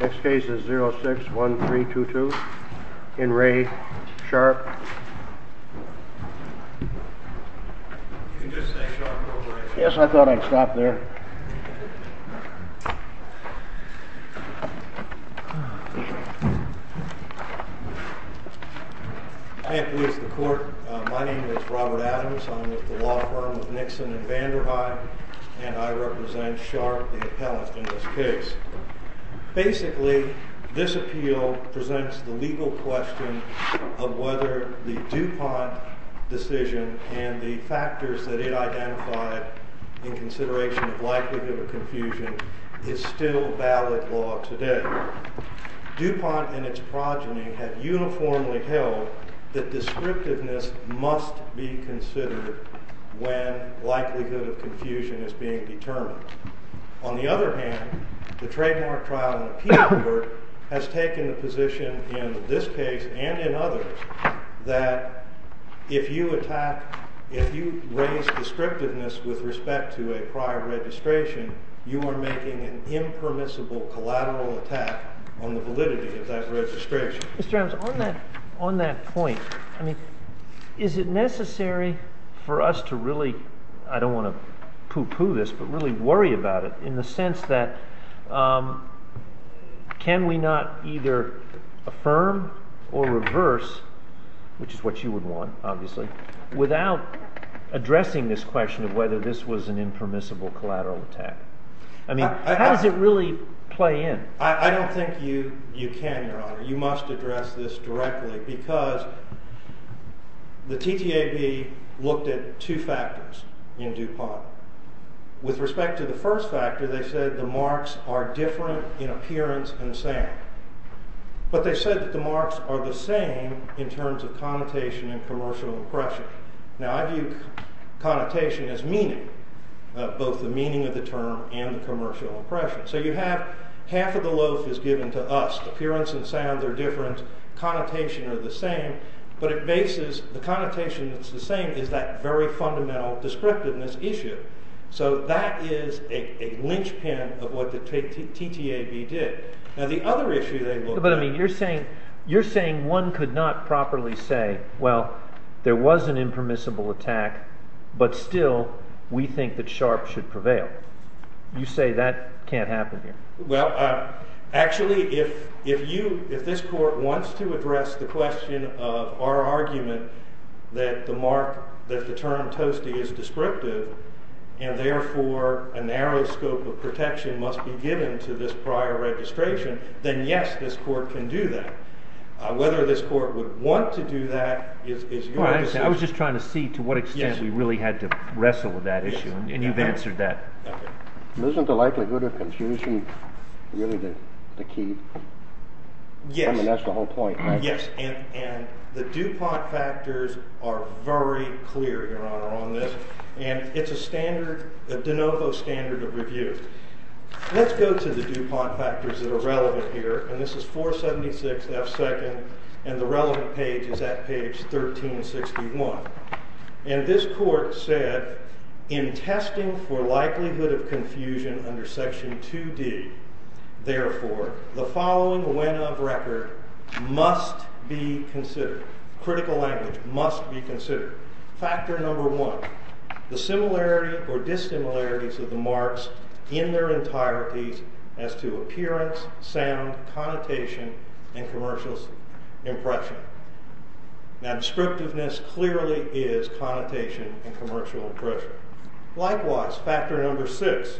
Next case is 061322 in Re Sharp. I'm with the law firm of Nixon and Vanderhyde, and I represent Sharp, the appellant, in this case. Basically, this appeal presents the legal question of whether the DuPont decision and the factors that it identified in consideration of likelihood of confusion is still valid law today. DuPont and its progeny have uniformly held that descriptiveness must be considered when likelihood of confusion is being determined. On the other hand, the trademark trial and appeal court has taken the position in this case and in others that if you raise descriptiveness with respect to a prior registration, you are making an impermissible collateral attack on the validity of that registration. Mr. Adams, on that point, is it necessary for us to really, I don't want to poo-poo this, but really worry about it in the sense that can we not either affirm or reverse, which is what you would want, obviously, without addressing this question of whether this was an impermissible collateral attack? I mean, how does it really play in? You must address this directly because the TTAB looked at two factors in DuPont. With respect to the first factor, they said the marks are different in appearance and sound, but they said that the marks are the same in terms of connotation and commercial impression. Now, I view connotation as meaning, both the meaning of the term and the commercial impression. So you have half of the loaf is given to us. Appearance and sound are different, connotation are the same, but the connotation that's the same is that very fundamental descriptiveness issue. So that is a linchpin of what the TTAB did. Now, the other issue they looked at— But, I mean, you're saying one could not properly say, well, there was an impermissible attack, but still we think that Sharpe should prevail. You say that can't happen here. Well, actually, if this court wants to address the question of our argument that the term toasty is descriptive, and therefore a narrow scope of protection must be given to this prior registration, then yes, this court can do that. Whether this court would want to do that is your decision. I was just trying to see to what extent we really had to wrestle with that issue, and you've answered that. Okay. Isn't the likelihood of confusion really the key? Yes. I mean, that's the whole point, right? Yes. And the DuPont factors are very clear, Your Honor, on this, and it's a standard, de novo standard of review. Let's go to the DuPont factors that are relevant here, and this is 476 F. 2nd, and the relevant page is at page 1361. And this court said, in testing for likelihood of confusion under section 2D, therefore, the following when of record must be considered. Critical language must be considered. Factor number one, the similarity or dissimilarities of the marks in their entireties as to appearance, sound, connotation, and commercial impression. Now, descriptiveness clearly is connotation and commercial impression. Likewise, factor number six,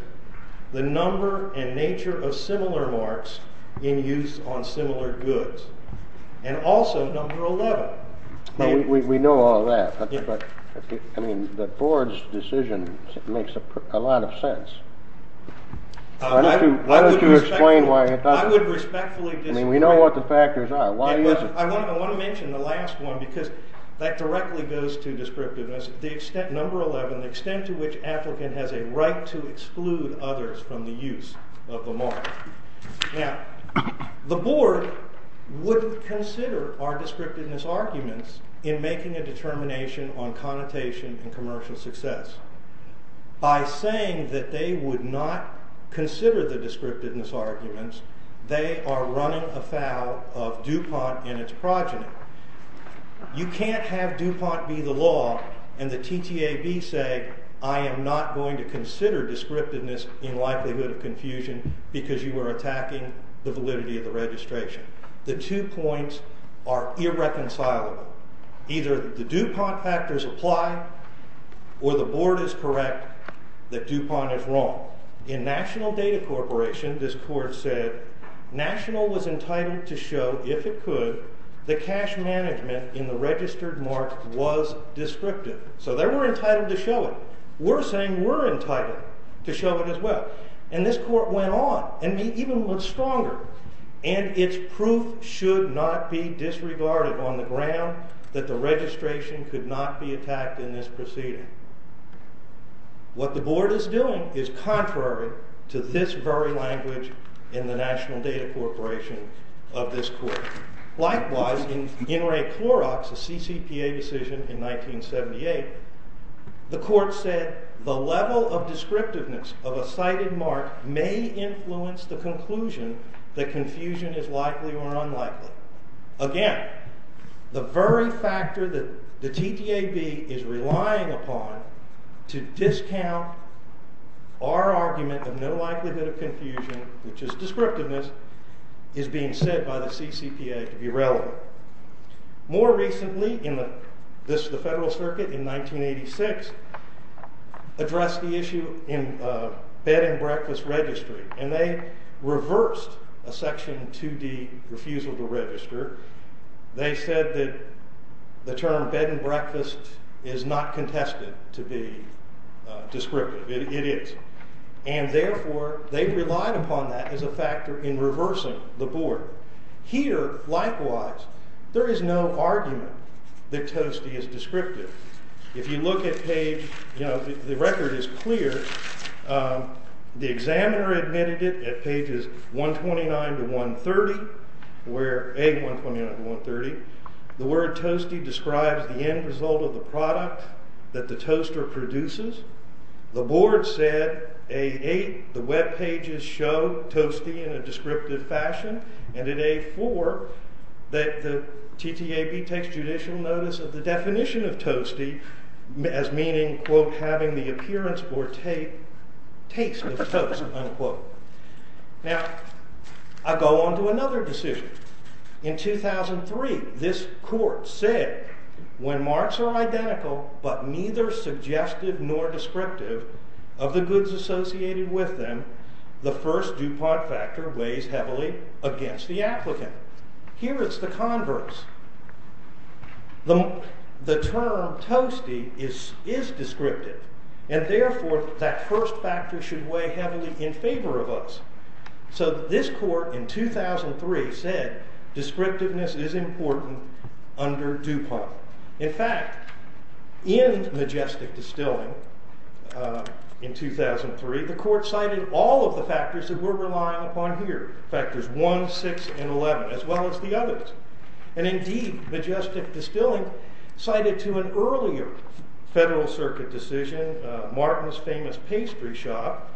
the number and nature of similar marks in use on similar goods, and also number 11. We know all that, but I mean, the board's decision makes a lot of sense. Why don't you explain why it doesn't? I would respectfully disagree. I mean, we know what the factors are. Why doesn't it? I want to mention the last one, because that directly goes to descriptiveness. Number 11, the extent to which an applicant has a right to exclude others from the use of the mark. Now, the board wouldn't consider our descriptiveness arguments in making a determination on connotation and commercial success. By saying that they would not consider the descriptiveness arguments, they are running afoul of DuPont and its progeny. You can't have DuPont be the law and the TTAB say, I am not going to consider descriptiveness in likelihood of confusion because you are attacking the validity of the registration. The two points are irreconcilable. Either the DuPont factors apply, or the board is correct that DuPont is wrong. In National Data Corporation, this court said National was entitled to show, if it could, the cash management in the registered mark was descriptive. So they were entitled to show it. We're saying we're entitled to show it as well. And this court went on, and even looked stronger. And its proof should not be disregarded on the ground that the registration could not be attacked in this proceeding. What the board is doing is contrary to this very language in the National Data Corporation of this court. Likewise, in In Re Clorox, a CCPA decision in 1978, the court said the level of descriptiveness of a cited mark may influence the conclusion that confusion is likely or unlikely. Again, the very factor that the TTAB is relying upon to discount our argument of no likelihood of confusion, which is descriptiveness, is being said by the CCPA to be relevant. More recently, the Federal Circuit in 1986 addressed the issue in bed and breakfast registry. And they reversed a section 2D refusal to register. They said that the term bed and breakfast is not contested to be descriptive. It is. And therefore, they relied upon that as a factor in reversing the board. Here, likewise, there is no argument that Toasty is descriptive. If you look at page, you know, the record is clear. The examiner admitted it at pages 129 to 130, where, A129 to 130. The word Toasty describes the end result of the product that the toaster produces. The board said, A8, the webpages show Toasty in a descriptive fashion. And at A4, the TTAB takes judicial notice of the definition of Toasty as meaning, quote, having the appearance or taste of toast, unquote. Now, I go on to another decision. In 2003, this court said, when marks are identical but neither suggestive nor descriptive of the goods associated with them, the first DuPont factor weighs heavily against the applicant. Here, it's the converse. The term Toasty is descriptive. And therefore, that first factor should weigh heavily in favor of us. So this court in 2003 said, descriptiveness is important under DuPont. In fact, in Majestic Distilling in 2003, the court cited all of the factors that we're relying upon here. Factors 1, 6, and 11, as well as the others. And indeed, Majestic Distilling cited to an earlier Federal Circuit decision Martin's Famous Pastry Shop.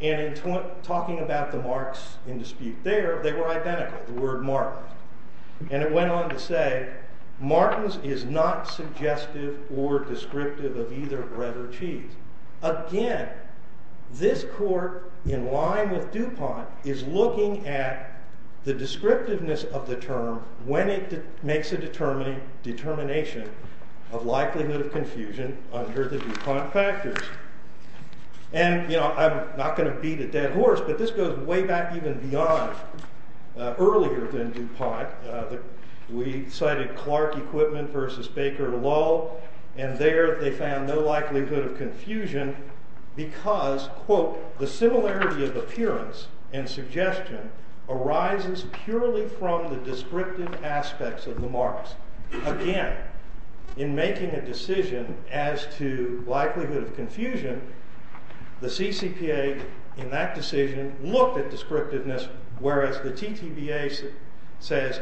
And in talking about the marks in dispute there, they were identical, the word Martin. And it went on to say, Martin's is not suggestive or descriptive of either bread or cheese. Again, this court, in line with DuPont, is looking at the descriptiveness of the term when it makes a determination of likelihood of confusion under the DuPont factors. And, you know, I'm not going to beat a dead horse, but this goes way back even beyond earlier than DuPont. We cited Clark Equipment v. Baker Lull. And there, they found no likelihood of confusion because, quote, the similarity of appearance and suggestion arises purely from the descriptive aspects of the marks. Again, in making a decision as to likelihood of confusion, the CCPA, in that decision, looked at descriptiveness, whereas the TTBA says,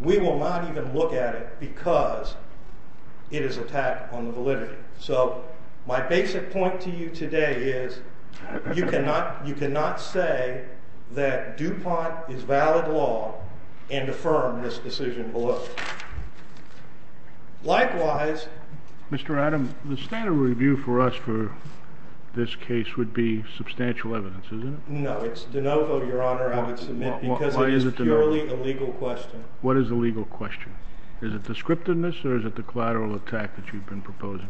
we will not even look at it because it is attacked on the validity. So my basic point to you today is, you cannot say that DuPont is valid law and affirm this decision below. Likewise... Mr. Adam, the standard review for us for this case would be substantial evidence, isn't it? No, it's de novo, Your Honor. I would submit because it is purely a legal question. What is the legal question? Is it descriptiveness or is it the collateral attack that you've been proposing?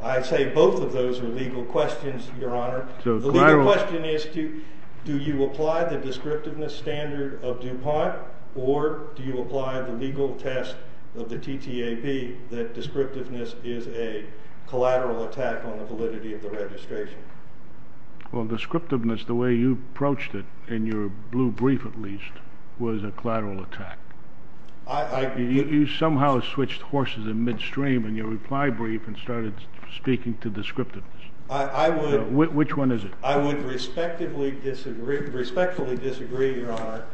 I say both of those are legal questions, Your Honor. The legal question is, do you apply the descriptiveness standard of DuPont or do you apply the legal test of the TTAB that descriptiveness is a collateral attack on the validity of the registration? Well, descriptiveness, the way you approached it, in your blue brief at least, was a collateral attack. You somehow switched horses in midstream in your reply brief and started speaking to descriptiveness. Which one is it? I would respectfully disagree, Your Honor.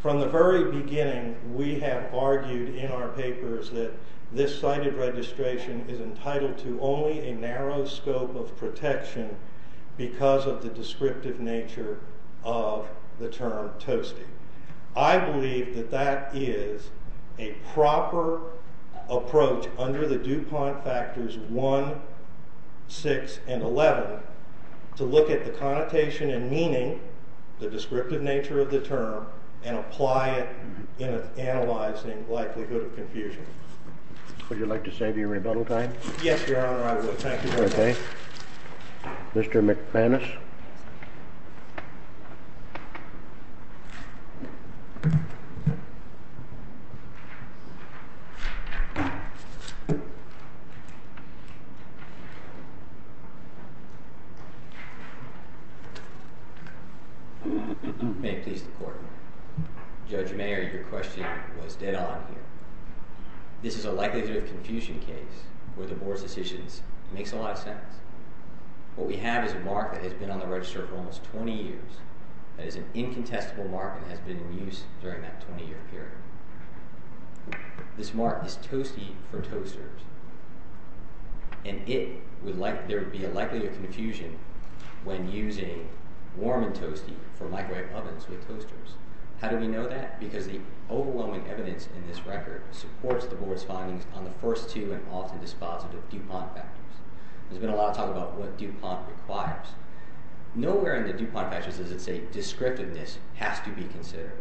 From the very beginning, we have argued in our papers that this cited registration is entitled to only a narrow scope of protection because of the descriptive nature of the term toasty. I believe that that is a proper approach under the DuPont factors 1, 6, and 11 to look at the connotation and meaning, the descriptive nature of the term, and apply it in analyzing likelihood of confusion. Would you like to save your rebuttal time? Yes, Your Honor, I would. Thank you very much. Mr. McManus? May it please the Court, Judge Mayer, your question was dead on here. This is a likelihood of confusion case where the Board's decisions make a lot of sense. What we have is a mark that has been on the register for almost 20 years. That is an incontestable mark that has been in use during that 20-year period. This mark is toasty for toasters, and there would be a likelihood of confusion when using warm and toasty for microwave ovens with toasters. How do we know that? Because the overwhelming evidence in this record supports the Board's findings on the first two and often dispositive DuPont factors. There's been a lot of talk about what DuPont requires. Nowhere in the DuPont factors does it say descriptiveness has to be considered.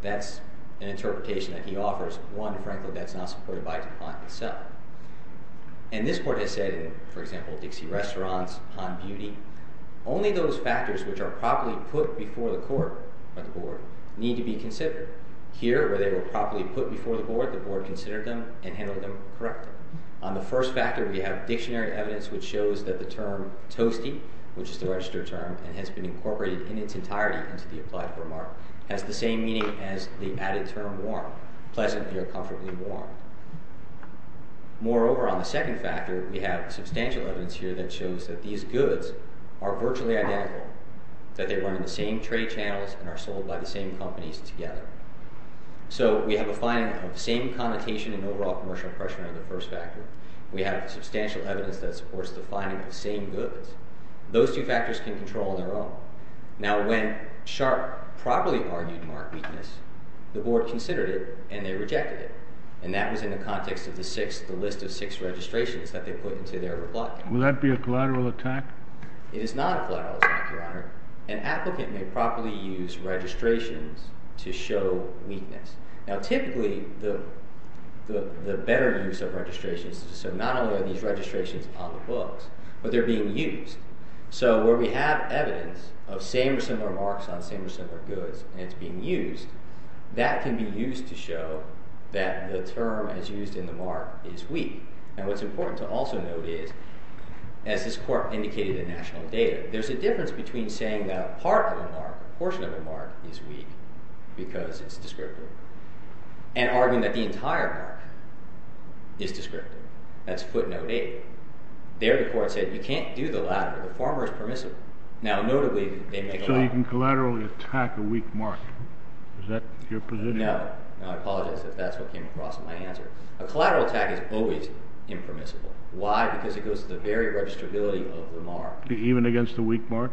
That's an interpretation that he offers, one, frankly, that's not supported by DuPont itself. And this Court has said in, for example, Dixie Restaurants, Han Beauty, only those factors which are properly put before the Court or the Board need to be considered. Here, where they were properly put before the Board, the Board considered them and handled them correctly. On the first factor, we have dictionary evidence which shows that the term toasty, which is the register term and has been incorporated in its entirety into the applied for mark, has the same meaning as the added term warm, pleasantly or comfortably warm. Moreover, on the second factor, we have substantial evidence here that shows that these goods are virtually identical, that they run in the same trade channels and are sold by the same companies together. So we have a finding of the same connotation in overall commercial pressure on the first factor. We have substantial evidence that supports the finding of the same goods. Those two factors can control on their own. Now, when Sharp properly argued mark weakness, the Board considered it and they rejected it. And that was in the context of the list of six registrations that they put into their reply. Will that be a collateral attack? It is not a collateral attack, Your Honor. An applicant may properly use registrations to show weakness. Now, typically, the better use of registrations, so not only are these registrations on the books, but they're being used. So where we have evidence of same or similar marks on same or similar goods and it's being used, that can be used to show that the term as used in the mark is weak. Now, what's important to also note is, as this Court indicated in national data, there's a difference between saying that a part of a mark, a portion of a mark is weak because it's descriptive and arguing that the entire mark is descriptive. That's footnote eight. There, the Court said you can't do the latter. The former is permissible. Now, notably, they make a lot of— Is that your position? No. I apologize if that's what came across in my answer. A collateral attack is always impermissible. Why? Because it goes to the very registrability of the mark. Even against a weak mark?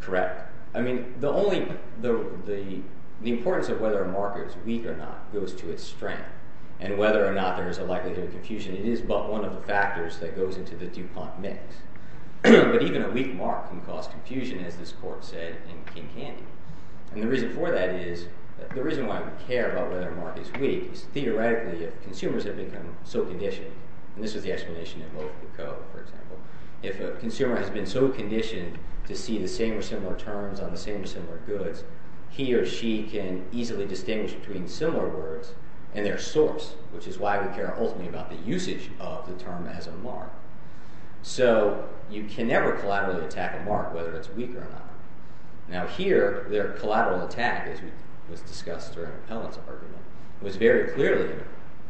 Correct. I mean, the only—the importance of whether a mark is weak or not goes to its strength. And whether or not there is a likelihood of confusion, it is but one of the factors that goes into the DuPont mix. But even a weak mark can cause confusion, as this Court said in King Candy. And the reason for that is—the reason why we care about whether a mark is weak is, theoretically, if consumers have become so conditioned—and this is the explanation in both the Code, for example— if a consumer has been so conditioned to see the same or similar terms on the same or similar goods, he or she can easily distinguish between similar words and their source, which is why we care ultimately about the usage of the term as a mark. So you can never collaterally attack a mark, whether it's weak or not. Now here, their collateral attack, as was discussed during Appellant's argument, was very clearly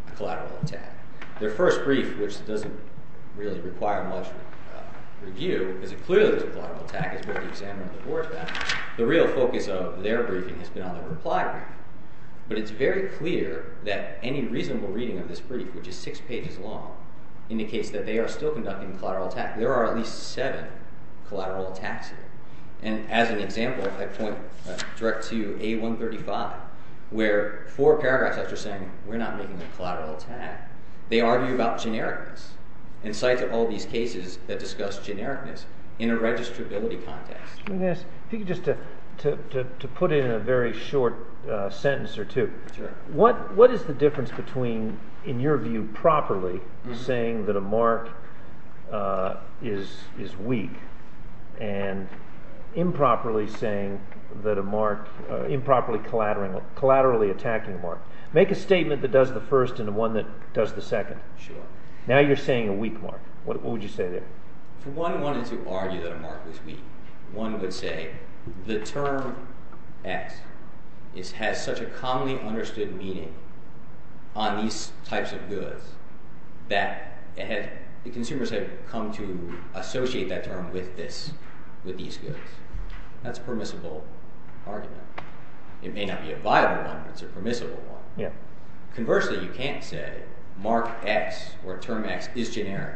a collateral attack. Their first brief, which doesn't really require much review, because it clearly was a collateral attack, as both the examiner and the board found, the real focus of their briefing has been on the reply graph. But it's very clear that any reasonable reading of this brief, which is six pages long, indicates that they are still conducting a collateral attack. There are at least seven collateral attacks here. And as an example, I point direct to A135, where four paragraphs after saying, we're not making a collateral attack, they argue about genericness, and cite all these cases that discuss genericness in a registrability context. Let me ask you just to put in a very short sentence or two. What is the difference between, in your view properly, saying that a mark is weak and improperly saying that a mark, improperly collaterally attacking a mark? Make a statement that does the first and one that does the second. Sure. Now you're saying a weak mark. What would you say there? If one wanted to argue that a mark was weak, one would say the term X has such a commonly understood meaning on these types of goods that the consumers have come to associate that term with these goods. That's a permissible argument. It may not be a viable one, but it's a permissible one. Conversely, you can't say mark X or term X is generic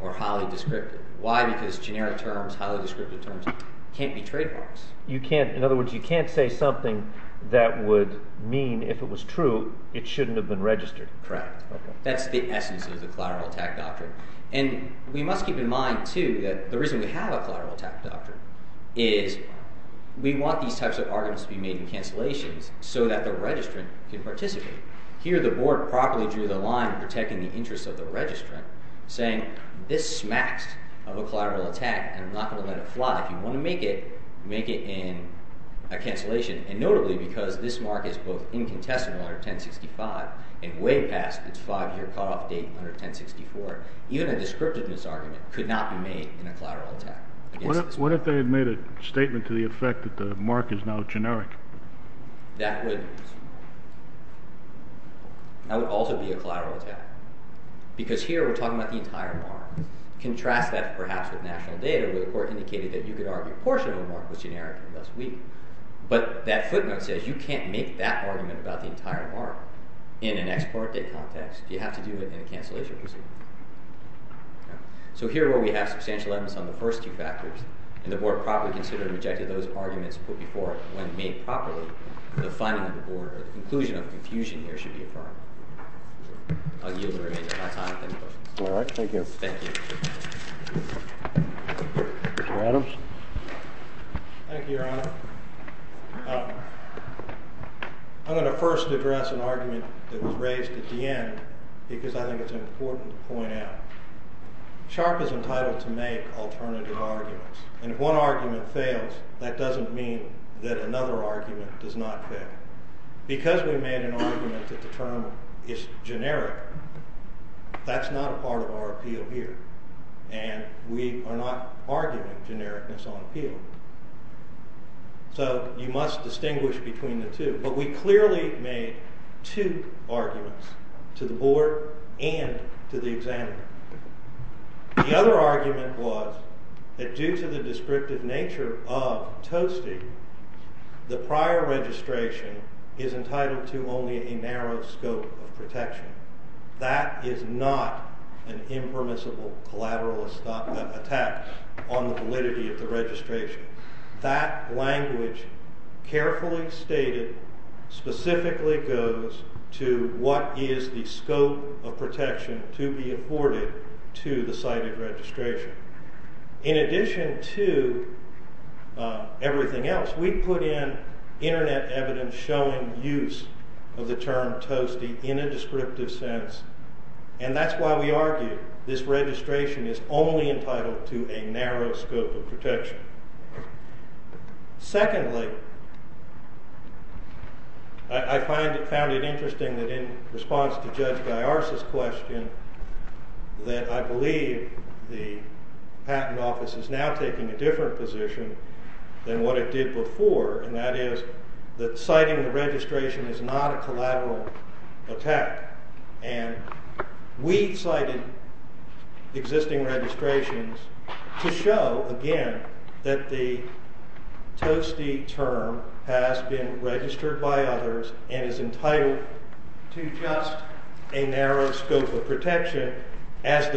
or highly descriptive. Why? Because generic terms, highly descriptive terms can't be trademarks. In other words, you can't say something that would mean, if it was true, it shouldn't have been registered. Correct. That's the essence of the collateral attack doctrine. And we must keep in mind too that the reason we have a collateral attack doctrine is we want these types of arguments to be made in cancellations so that the registrant can participate. Here the board properly drew the line in protecting the interests of the registrant, saying this smacks of a collateral attack, and I'm not going to let it fly. If you want to make it, make it in a cancellation. And notably because this mark is both incontestable under 1065 and way past its five-year cutoff date under 1064, even a descriptiveness argument could not be made in a collateral attack. What if they had made a statement to the effect that the mark is now generic? That would also be a collateral attack because here we're talking about the entire mark. Contrast that perhaps with national data where the court indicated that you could argue a portion of the mark was generic and thus weak. But that footnote says you can't make that argument about the entire mark in an ex parte context. You have to do it in a cancellation proceeding. So here where we have substantial evidence on the first two factors, and the board properly considered and rejected those arguments put before it when made properly, the finding of the board or the conclusion of the confusion here should be affirmed. I'll yield the remainder of my time if any questions. All right. Thank you. Thank you. Mr. Adams? Thank you, Your Honor. I'm going to first address an argument that was raised at the end because I think it's important to point out. Sharp is entitled to make alternative arguments, and if one argument fails, that doesn't mean that another argument does not fail. Because we made an argument that the term is generic, that's not a part of our appeal here, and we are not arguing genericness on appeal. So you must distinguish between the two. But we clearly made two arguments to the board and to the examiner. The other argument was that due to the descriptive nature of Toasty, the prior registration is entitled to only a narrow scope of protection. That is not an impermissible collateral attack on the validity of the registration. That language carefully stated specifically goes to what is the scope of protection to be afforded to the cited registration. In addition to everything else, we put in Internet evidence showing use of the term Toasty in a descriptive sense, and that's why we argue this registration is only entitled to a narrow scope of protection. Secondly, I found it interesting that in response to Judge Gaiars' question, that I believe the patent office is now taking a different position than what it did before, and that is that citing the registration is not a collateral attack. We cited existing registrations to show, again, that the Toasty term has been registered by others and is entitled to just a narrow scope of protection as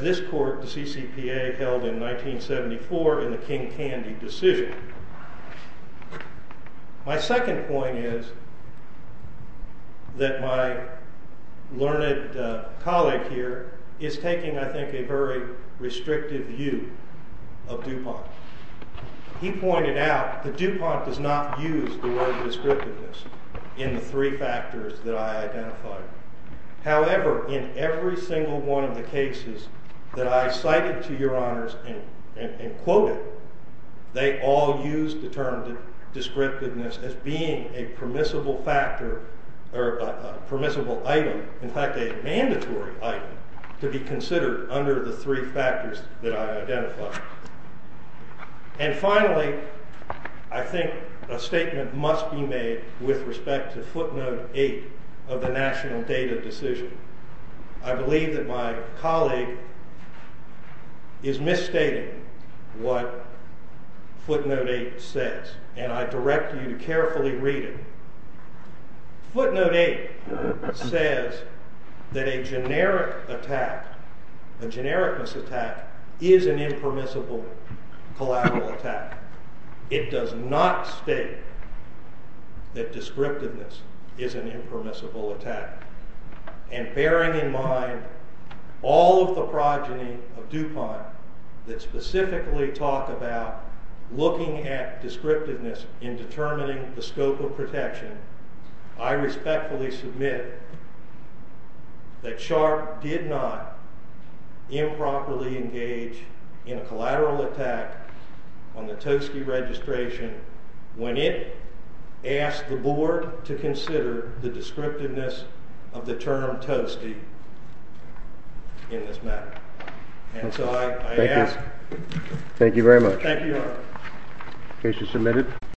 this court, the CCPA, held in 1974 in the King Candy decision. My second point is that my learned colleague here is taking, I think, a very restrictive view of DuPont. He pointed out that DuPont does not use the word descriptiveness in the three factors that I identified. However, in every single one of the cases that I cited to your honors and quoted, they all used the term descriptiveness as being a permissible item, in fact a mandatory item, to be considered under the three factors that I identified. And finally, I think a statement must be made with respect to footnote 8 of the national data decision. I believe that my colleague is misstating what footnote 8 says, and I direct you to carefully read it. Footnote 8 says that a generic attack, a genericness attack, is an impermissible collateral attack. It does not state that descriptiveness is an impermissible attack. And bearing in mind all of the progeny of DuPont that specifically talk about looking at descriptiveness in determining the scope of protection, I respectfully submit that Sharp did not improperly engage in a collateral attack on the Toastie registration when it asked the board to consider the descriptiveness of the term Toastie in this matter. And so I ask... Thank you. Thank you very much. Thank you, Your Honor. Case is submitted.